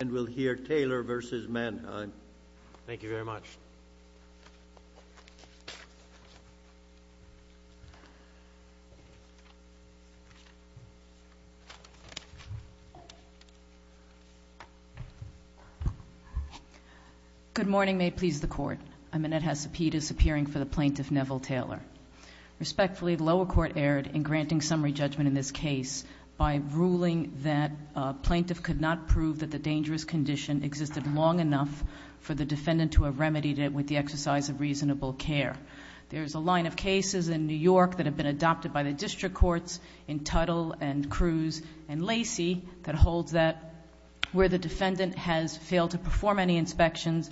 and we'll hear Taylor v. Manheim. Thank you very much. Good morning. May it please the Court. I'm Annette Hesapides, appearing for the Plaintiff Neville Taylor. Respectfully, the lower court erred in granting summary judgment in this for the defendant to have remedied it with the exercise of reasonable care. There's a line of cases in New York that have been adopted by the district courts in Tuttle and Cruz and Lacey that holds that where the defendant has failed to perform any inspections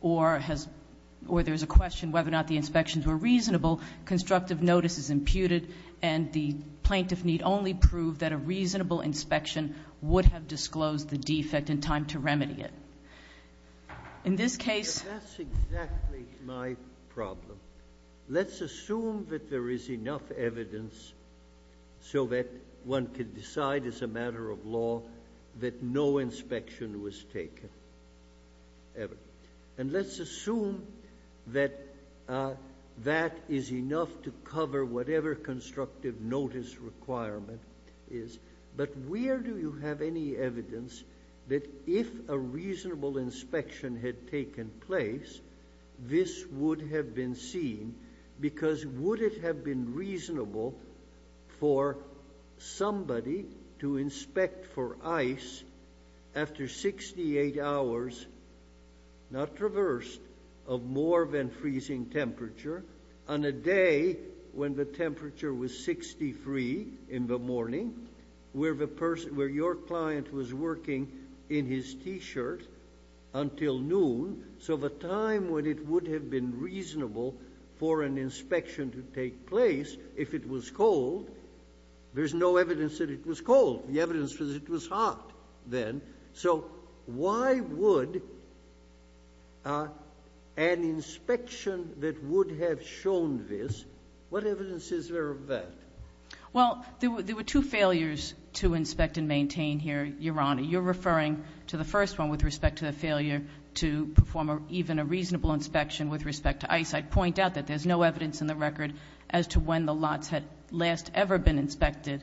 or there's a question whether or not the inspections were reasonable, constructive notice is imputed and the plaintiff need only prove that a reasonable inspection would have disclosed the defect in time to remedy it. In this case – That's exactly my problem. Let's assume that there is enough evidence so that one could decide as a matter of law that no inspection was taken. And let's assume that that is enough to cover whatever constructive notice requirement is, but where do you have any evidence that if a reasonable inspection had taken place, this would have been seen? Because would it have been reasonable for somebody to inspect for ice after 68 hours, not traversed, of more than freezing temperature on a day when the temperature was 63 in the in his T-shirt until noon, so the time when it would have been reasonable for an inspection to take place, if it was cold, there's no evidence that it was cold. The evidence was it was hot then. So why would an inspection that would have shown this, what evidence is there of that? Well, there were two failures to inspect and maintain here, Your Honor. You're referring to the first one with respect to the failure to perform even a reasonable inspection with respect to ice. I'd point out that there's no evidence in the record as to when the lots had last ever been inspected.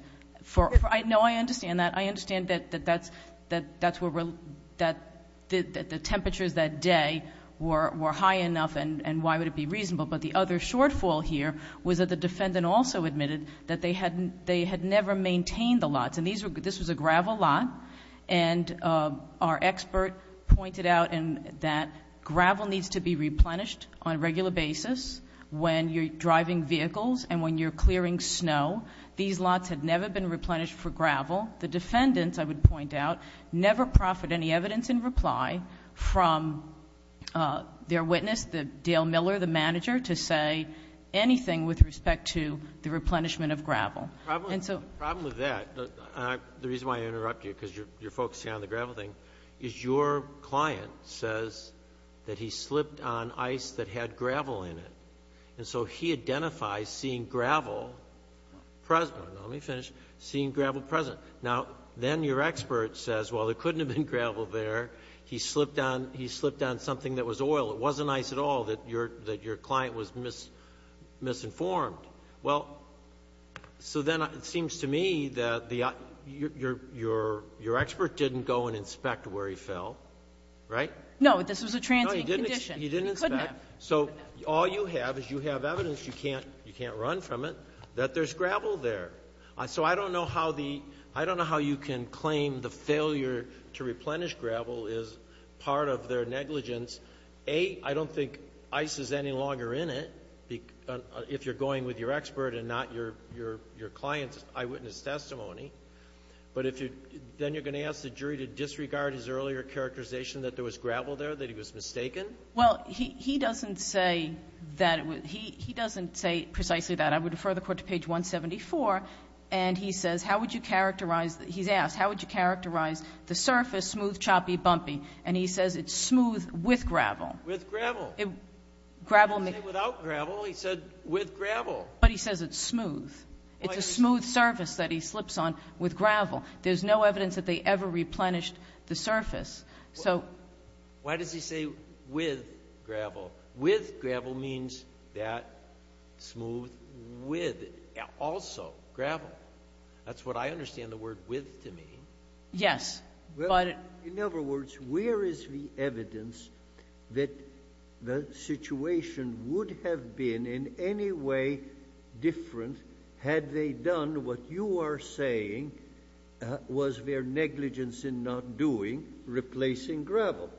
No, I understand that. I understand that the temperatures that day were high enough, and why would it be reasonable? But the other shortfall here was that the defendant also admitted that they had never maintained the lots. This was a gravel lot, and our expert pointed out that gravel needs to be replenished on a regular basis when you're driving vehicles and when you're clearing snow. These lots had never been replenished for gravel. The defendants, I would point out, never proffered any evidence in reply from their witness, Dale Miller, the manager, to say anything with respect to the replenishment of gravel. The problem with that, the reason why I interrupt you because you're focusing on the gravel thing, is your client says that he slipped on ice that had gravel in it, and so he identifies seeing gravel present. Now, let me finish. Seeing gravel present. Now, then your expert says, well, there couldn't have been gravel there. He slipped on something that was oil. It wasn't ice at all that your client was misinformed. Well, so then it seems to me that your expert didn't go and inspect where he fell, right? No, this was a transient condition. No, he didn't inspect. He couldn't have. So all you have is you have evidence, you can't run from it, that there's gravel there. So I don't know how the — I don't know how you can claim the failure to replenish gravel is part of their negligence. A, I don't think ice is any longer in it, if you're going with your expert and not your client's eyewitness testimony. But if you — then you're going to ask the jury to disregard his earlier characterization that there was gravel there, that he was mistaken? Well, he doesn't say that it was — he doesn't say precisely that. I would refer the court to page 174, and he says, how would you characterize — he's asked, how would you characterize the surface, smooth, choppy, bumpy? And he says it's smooth with gravel. With gravel. It — gravel — I didn't say without gravel. He said with gravel. But he says it's smooth. It's a smooth surface that he slips on with gravel. There's no evidence that they ever replenished the surface. So — Why does he say with gravel? With gravel means that smooth with, also, gravel. That's what I understand the word with to mean. Yes, but — Well, in other words, where is the evidence that the situation would have been in any way different had they done what you are saying was their negligence in not doing, replacing with gravel?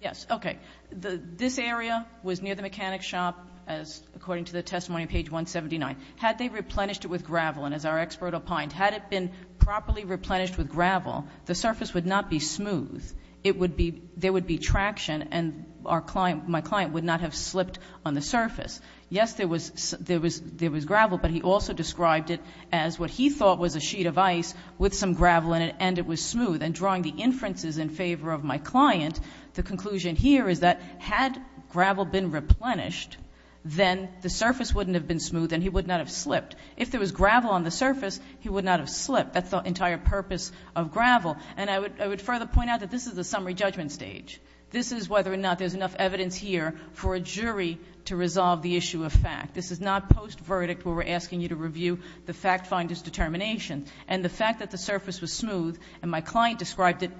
Yes. Okay. This area was near the mechanic's shop, as — according to the testimony on page 179. Had they replenished it with gravel, and as our expert opined, had it been properly replenished with gravel, the surface would not be smooth. It would be — there would be traction, and our client — my client would not have slipped on the surface. Yes, there was — there was — there was gravel, but he also described it as what he thought was a sheet of ice with some gravel in it, and it was smooth. And drawing the inferences in favor of my client, the conclusion here is that had gravel been replenished, then the surface wouldn't have been smooth, and he would not have slipped. If there was gravel on the surface, he would not have slipped. That's the entire purpose of gravel. And I would further point out that this is the summary judgment stage. This is whether or not there's enough evidence here for a jury to resolve the issue of fact. This is not post-verdict where we're asking you to review the fact finder's determination. And the fact that the surface was smooth, and my client described it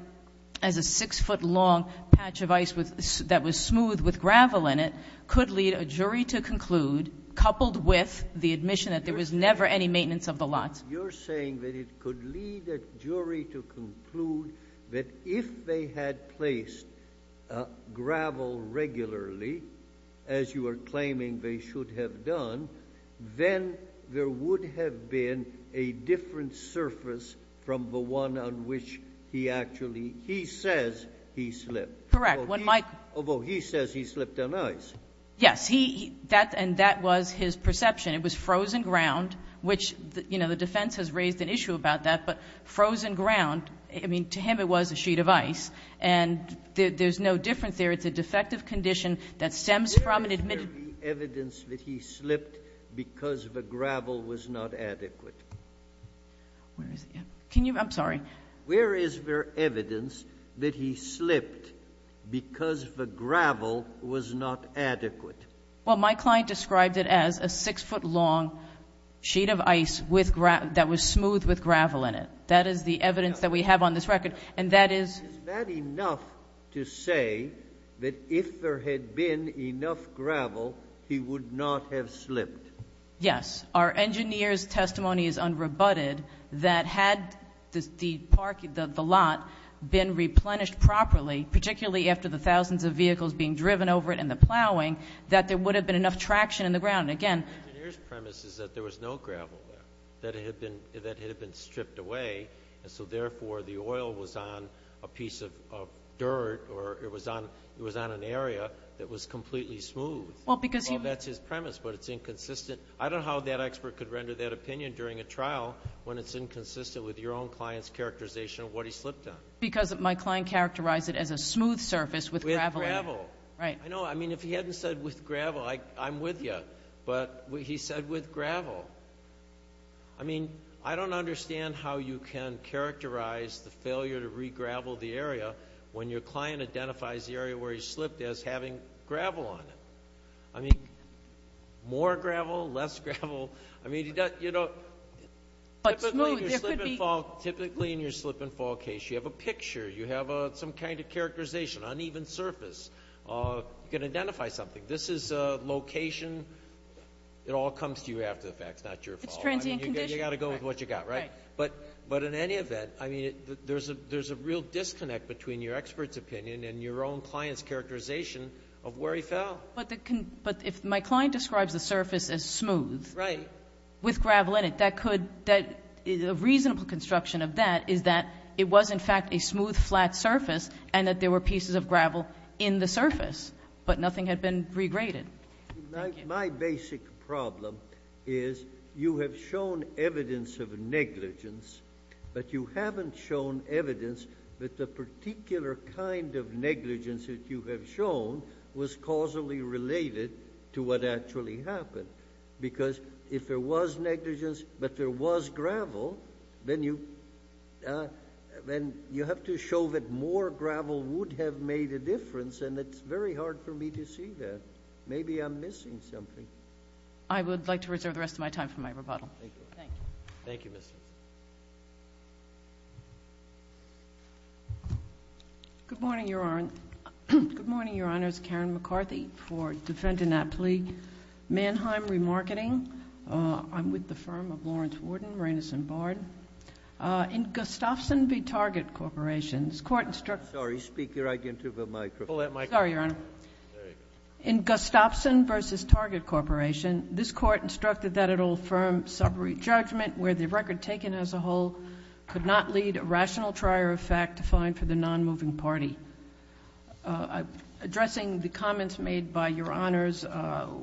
as a 6-foot-long patch of ice with — that was smooth with gravel in it, could lead a jury to conclude, coupled with the admission that there was never any maintenance of the lots — But you're saying that it could lead a jury to conclude that if they had placed gravel regularly, as you are claiming they should have done, then there would have been a different surface from the one on which he actually — he says he slipped. Correct. When Mike — Although he says he slipped on ice. Yes. He — that — and that was his perception. It was frozen ground, which, you know, the defense has raised an issue about that. But frozen ground, I mean, to him it was a sheet of ice. And there's no difference there. It's a defective condition that stems from an admitted — Where is it? Can you — I'm sorry. Where is there evidence that he slipped because the gravel was not adequate? Well, my client described it as a 6-foot-long sheet of ice with — that was smooth with gravel in it. That is the evidence that we have on this record. And that is — Is that enough to say that if there had been enough gravel, he would not have slipped? Yes. Our engineer's testimony is unrebutted that had the parking — the lot been replenished properly, particularly after the thousands of vehicles being driven over it and the plowing, that there would have been enough traction in the ground. And again — The engineer's premise is that there was no gravel there, that it had been — that it had been stripped away. And so, therefore, the oil was on a piece of dirt or it was on — it was on an area that was completely smooth. Well, because he — I mean, that's his premise, but it's inconsistent. I don't know how that expert could render that opinion during a trial when it's inconsistent with your own client's characterization of what he slipped on. Because my client characterized it as a smooth surface with gravel in it. With gravel. Right. I know. I mean, if he hadn't said with gravel, I'm with you. But he said with gravel. I mean, I don't understand how you can characterize the failure to regravel the area when your More gravel, less gravel. I mean, you know, typically in your slip and fall case, you have a picture, you have some kind of characterization, uneven surface. You can identify something. This is a location. It all comes to you after the fact, it's not your fault. It's transient condition. I mean, you've got to go with what you've got, right? Right. But in any event, I mean, there's a real disconnect between your expert's opinion and your own client's characterization of where he fell. But if my client describes the surface as smooth with gravel in it, a reasonable construction of that is that it was in fact a smooth, flat surface and that there were pieces of gravel in the surface, but nothing had been regraded. My basic problem is you have shown evidence of negligence, but you haven't shown evidence that the particular kind of negligence that you have shown was causally related to what actually happened. Because if there was negligence, but there was gravel, then you have to show that more gravel would have made a difference, and it's very hard for me to see that. Maybe I'm missing something. I would like to reserve the rest of my time for my rebuttal. Thank you. Thank you. Good morning, Your Honor. Good morning, Your Honors. Karen McCarthy for Defendant Aptly, Mannheim Remarketing. I'm with the firm of Lawrence Worden, Raines and Bard. In Gustafson v. Target Corporations, court instructed— Sorry, speak right into the microphone. Sorry, Your Honor. There you go. In Gustafson v. Target Corporation, this court instructed that it'll affirm summary judgment where the record taken as a whole could not lead a rational trier of facts defined for the non-moving party. Addressing the comments made by Your Honors,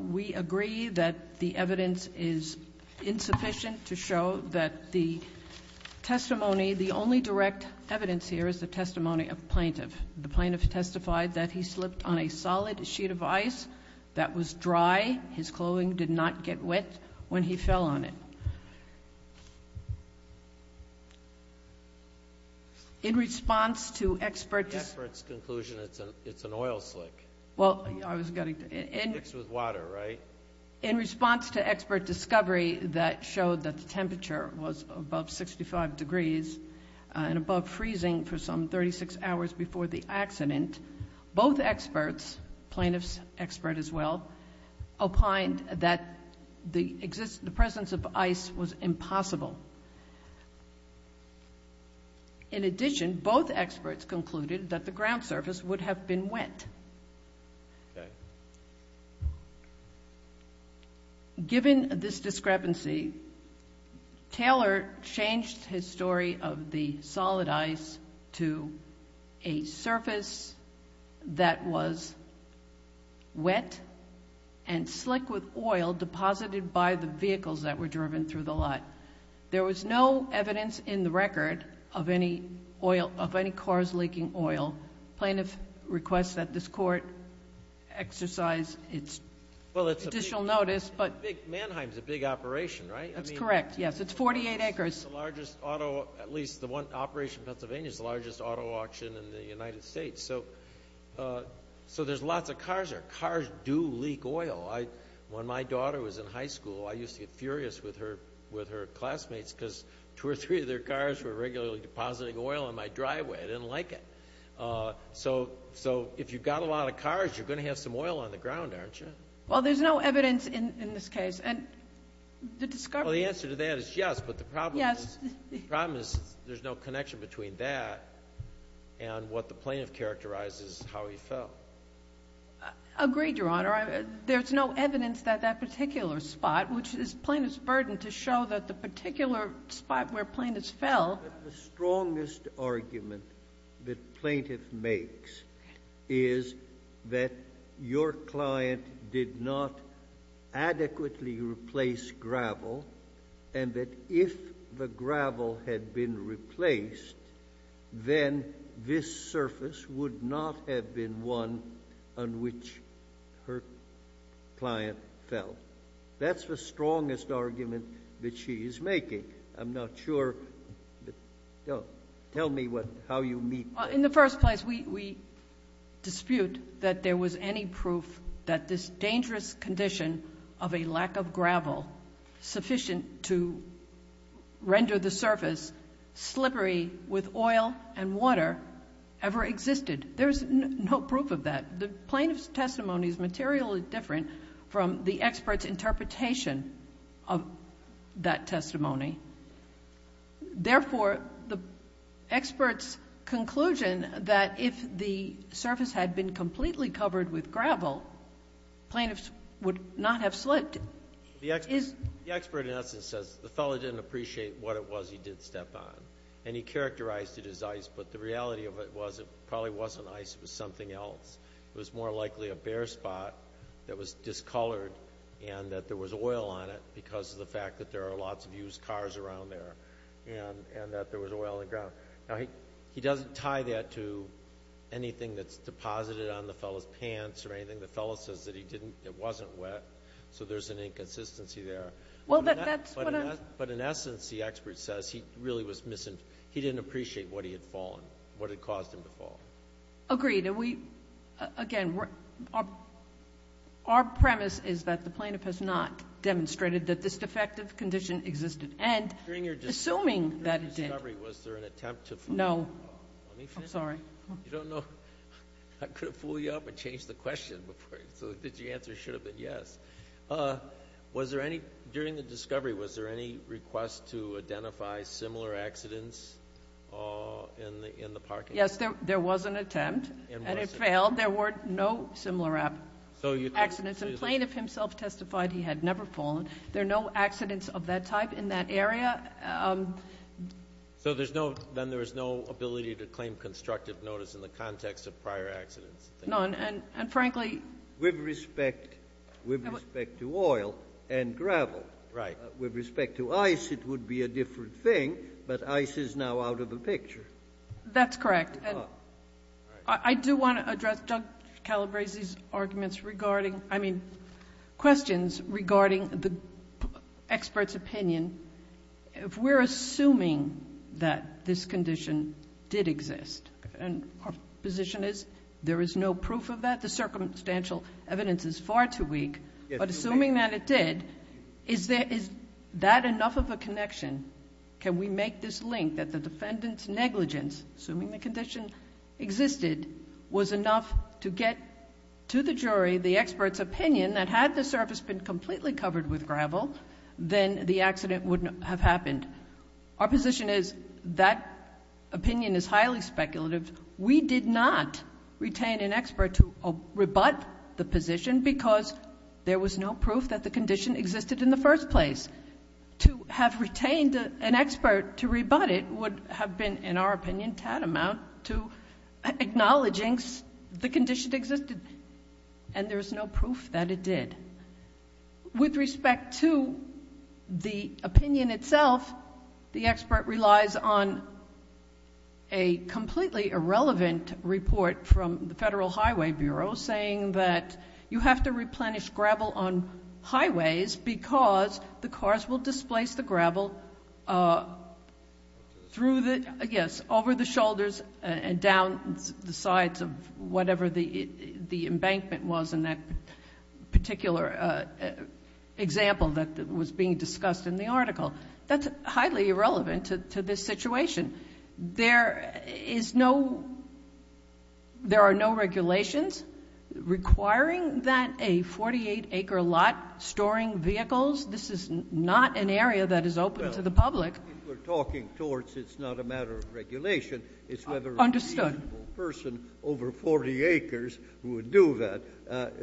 we agree that the evidence is insufficient to show that the testimony—the only direct evidence here is the testimony of the plaintiff. The plaintiff testified that he slipped on a solid sheet of ice that was dry. His clothing did not get wet when he fell on it. In response to expert— In the expert's conclusion, it's an oil slick. Well, I was going to— It's mixed with water, right? In response to expert discovery that showed that the temperature was above 65 degrees and above freezing for some 36 hours before the accident, both experts, plaintiff's expert as well, opined that the presence of ice was impossible. In addition, both experts concluded that the ground surface would have been wet. Given this discrepancy, Taylor changed his story of the solid ice to a surface that was wet and slick with oil deposited by the vehicles that were driven through the lot. There was no evidence in the record of any oil—of any cars leaking oil. Plaintiff requests that this Court exercise its additional notice, but— Well, it's a big—Manheim's a big operation, right? That's correct, yes. It's 48 acres. It's the largest auto—at least the one—Operation Pennsylvania's the largest auto auction in the United States. So there's lots of cars there. Cars do leak oil. When my daughter was in high school, I used to get furious with her classmates because two or three of their cars were regularly depositing oil on my driveway. I didn't like it. So if you've got a lot of cars, you're going to have some oil on the ground, aren't you? Well, there's no evidence in this case. And the discovery— Well, the answer to that is yes, but the problem is— Yes. And what the plaintiff characterizes is how he fell. Agreed, Your Honor. There's no evidence that that particular spot— which is plaintiff's burden to show that the particular spot where plaintiffs fell— The strongest argument that plaintiff makes is that your client did not adequately replace gravel and that if the gravel had been replaced, then this surface would not have been one on which her client fell. That's the strongest argument that she is making. I'm not sure—tell me how you meet— In the first place, we dispute that there was any proof that this dangerous condition of a lack of gravel sufficient to render the surface slippery with oil and water ever existed. There's no proof of that. The plaintiff's testimony is materially different from the expert's interpretation of that testimony. Therefore, the expert's conclusion that if the surface had been completely covered with gravel, plaintiffs would not have slipped is— The expert, in essence, says the fellow didn't appreciate what it was he did step on. And he characterized it as ice, but the reality of it was it probably wasn't ice. It was something else. It was more likely a bare spot that was discolored and that there was oil on it because of the fact that there are lots of used cars around there and that there was oil on the ground. He doesn't tie that to anything that's deposited on the fellow's pants or anything. The fellow says that it wasn't wet, so there's an inconsistency there. But in essence, the expert says he didn't appreciate what he had fallen, what had caused him to fall. Agreed. Again, our premise is that the plaintiff has not demonstrated that this defective condition existed. Assuming that it did— During your discovery, was there an attempt to— No. Let me finish. I'm sorry. You don't know—I could have fooled you up and changed the question so that the answer should have been yes. During the discovery, was there any request to identify similar accidents in the parking lot? Yes, there was an attempt, and it failed. There were no similar accidents. The plaintiff himself testified he had never fallen. There are no accidents of that type in that area. So then there is no ability to claim constructive notice in the context of prior accidents? None. And frankly— With respect to oil and gravel. Right. With respect to ice, it would be a different thing, but ice is now out of the picture. That's correct. I do want to address Judge Calabresi's questions regarding the expert's opinion. If we're assuming that this condition did exist, and our position is there is no proof of that, the circumstantial evidence is far too weak. But assuming that it did, is that enough of a connection? Can we make this link that the defendant's negligence, assuming the condition existed, was enough to get to the jury the expert's opinion that had the surface been completely covered with gravel, then the accident would have happened? Our position is that opinion is highly speculative. We did not retain an expert to rebut the position because there was no proof that the condition existed in the first place. To have retained an expert to rebut it would have been, in our opinion, tantamount to acknowledging the condition existed. And there's no proof that it did. With respect to the opinion itself, the expert relies on a completely irrelevant report from the Federal Highway Bureau saying that you have to replenish gravel on highways because the cars will displace the gravel over the shoulders and down the sides of whatever the embankment was in that particular example that was being discussed in the article. That's highly irrelevant to this situation. There is no, there are no regulations requiring that a 48-acre lot storing vehicles, this is not an area that is open to the public. If we're talking towards it's not a matter of regulation, it's whether a reasonable person over 40 acres would do that.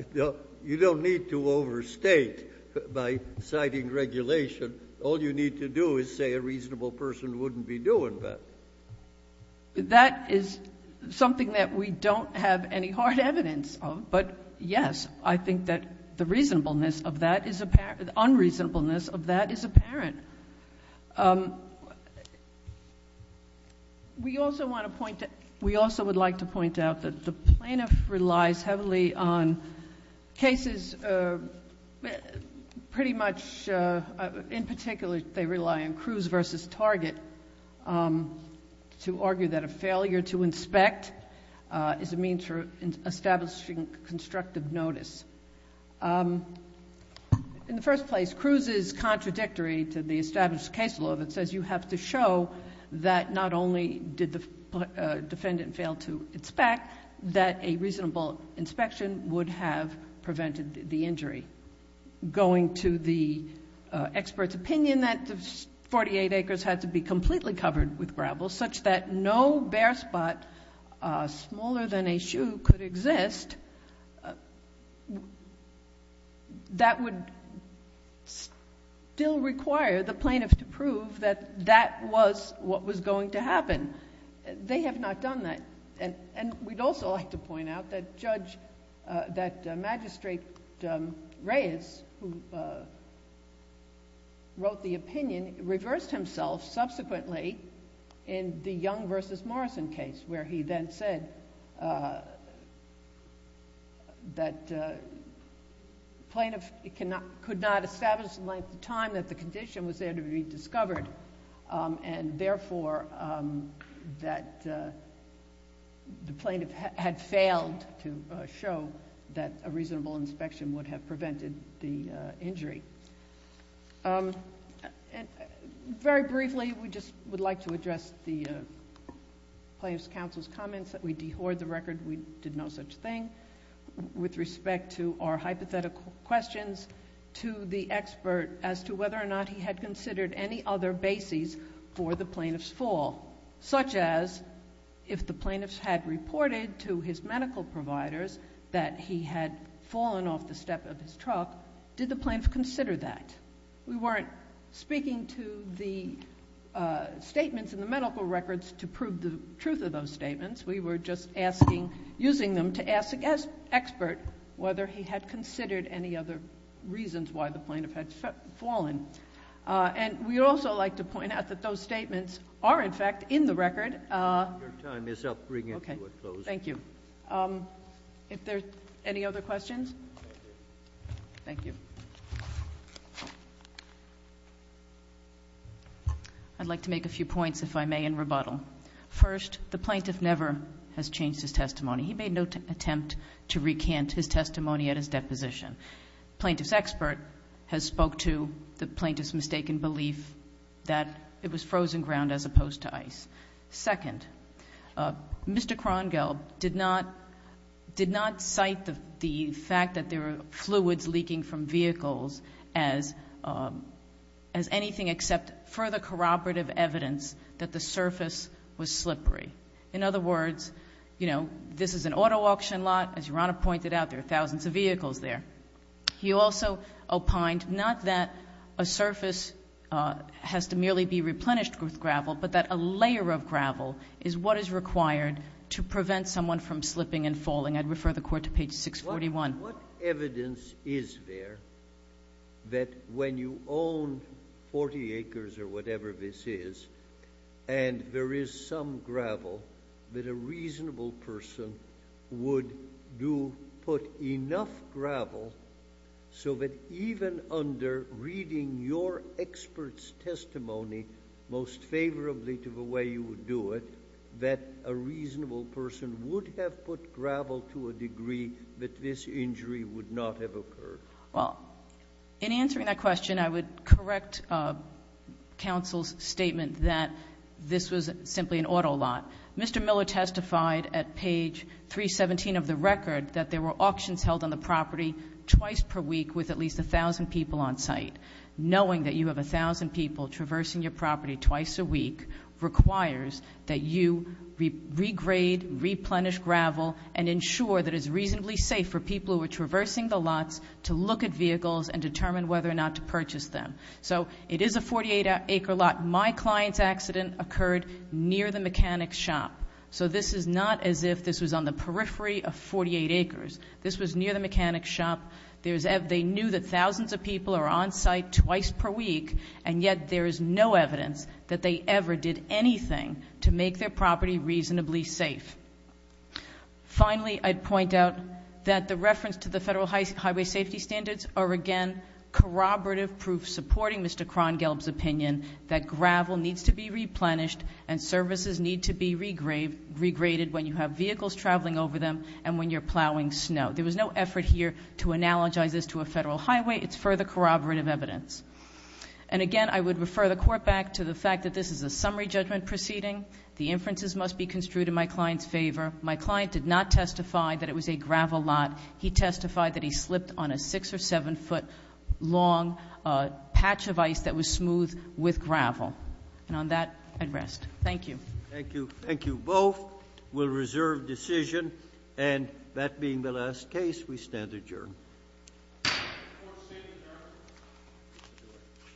You don't need to overstate by citing regulation. All you need to do is say a reasonable person wouldn't be doing that. That is something that we don't have any hard evidence of, but yes, I think that the reasonableness of that is apparent, the unreasonableness of that is apparent. We also want to point, we also would like to point out that the plaintiff relies heavily on cases pretty much, in particular, they rely on Cruz versus Target to argue that a failure to inspect is a means for establishing constructive notice. In the first place, Cruz is contradictory to the established case law that says you have to show that not only did the defendant fail to inspect, but that a reasonable inspection would have prevented the injury. Going to the expert's opinion that the 48 acres had to be completely covered with gravel such that no bare spot smaller than a shoe could exist, that would still require the plaintiff to prove that that was what was going to happen. They have not done that. And we'd also like to point out that Judge, that Magistrate Reyes, who wrote the opinion, reversed himself subsequently in the Young versus Morrison case where he then said that plaintiff could not establish in length of time that the condition was there to be discovered and therefore that the plaintiff had failed to show that a reasonable inspection would have prevented the injury. Very briefly, we just would like to address the plaintiff's counsel's comments that we dehoard the record. We did no such thing. With respect to our hypothetical questions, we asked the plaintiff's comments to the expert as to whether or not he had considered any other bases for the plaintiff's fall, such as if the plaintiff had reported to his medical providers that he had fallen off the step of his truck, did the plaintiff consider that? We weren't speaking to the statements in the medical records to prove the truth of those statements. We were just using them to ask the expert whether he had considered any other reasons why the plaintiff had fallen. And we'd also like to point out that those statements are, in fact, in the record. Your time is up. Bring it to a close. Okay. Thank you. If there are any other questions? Thank you. I'd like to make a few points, if I may, in rebuttal. First, the plaintiff never has changed his testimony. He made no attempt to recant his testimony at his deposition. Plaintiff's expert has spoke to the plaintiff's mistaken belief that it was frozen ground as opposed to ice. Second, Mr. Krongelb did not cite the fact that there were fluids leaking from vehicles as anything except further corroborative evidence that the surface was slippery. In other words, you know, this is an auto auction lot. As Your Honor pointed out, there are thousands of vehicles there. He also opined not that a surface has to merely be replenished with gravel, but that a layer of gravel is what is required to prevent someone from slipping and falling. I'd refer the Court to page 641. What evidence is there that when you own 40 acres or whatever this is, and there is some gravel, that a reasonable person would put enough gravel so that even under reading your expert's testimony most favorably to the way you would do it, that a reasonable person would have put gravel to a degree that this injury would not have occurred? Well, in answering that question, I would correct counsel's statement that this was simply an auto lot. Mr. Miller testified at page 317 of the record that there were auctions held on the property twice per week with at least 1,000 people on site. Knowing that you have 1,000 people traversing your property twice a week requires that you regrade, replenish gravel, and ensure that it's reasonably safe for people who are traversing the lots to look at vehicles and determine whether or not to purchase them. So it is a 48-acre lot. My client's accident occurred near the mechanic's shop. So this is not as if this was on the periphery of 48 acres. This was near the mechanic's shop. They knew that thousands of people are on site twice per week, and yet there is no evidence that they ever did anything to make their property reasonably safe. Finally, I'd point out that the reference to the Federal Highway Safety Standards are again corroborative proofs supporting Mr. Krongelb's opinion that gravel needs to be replenished and services need to be regraded when you have vehicles traveling over them and when you're plowing snow. There was no effort here to analogize this to a federal highway. It's further corroborative evidence. And again, I would refer the Court back to the fact that this is a summary judgment proceeding. The inferences must be construed in my client's favor. My client did not testify that it was a gravel lot. He testified that he slipped on a 6- or 7-foot-long patch of ice that was smooth with gravel. And on that, I'd rest. Thank you. Thank you. Thank you both. We'll reserve decision. And that being the last case, we stand adjourned.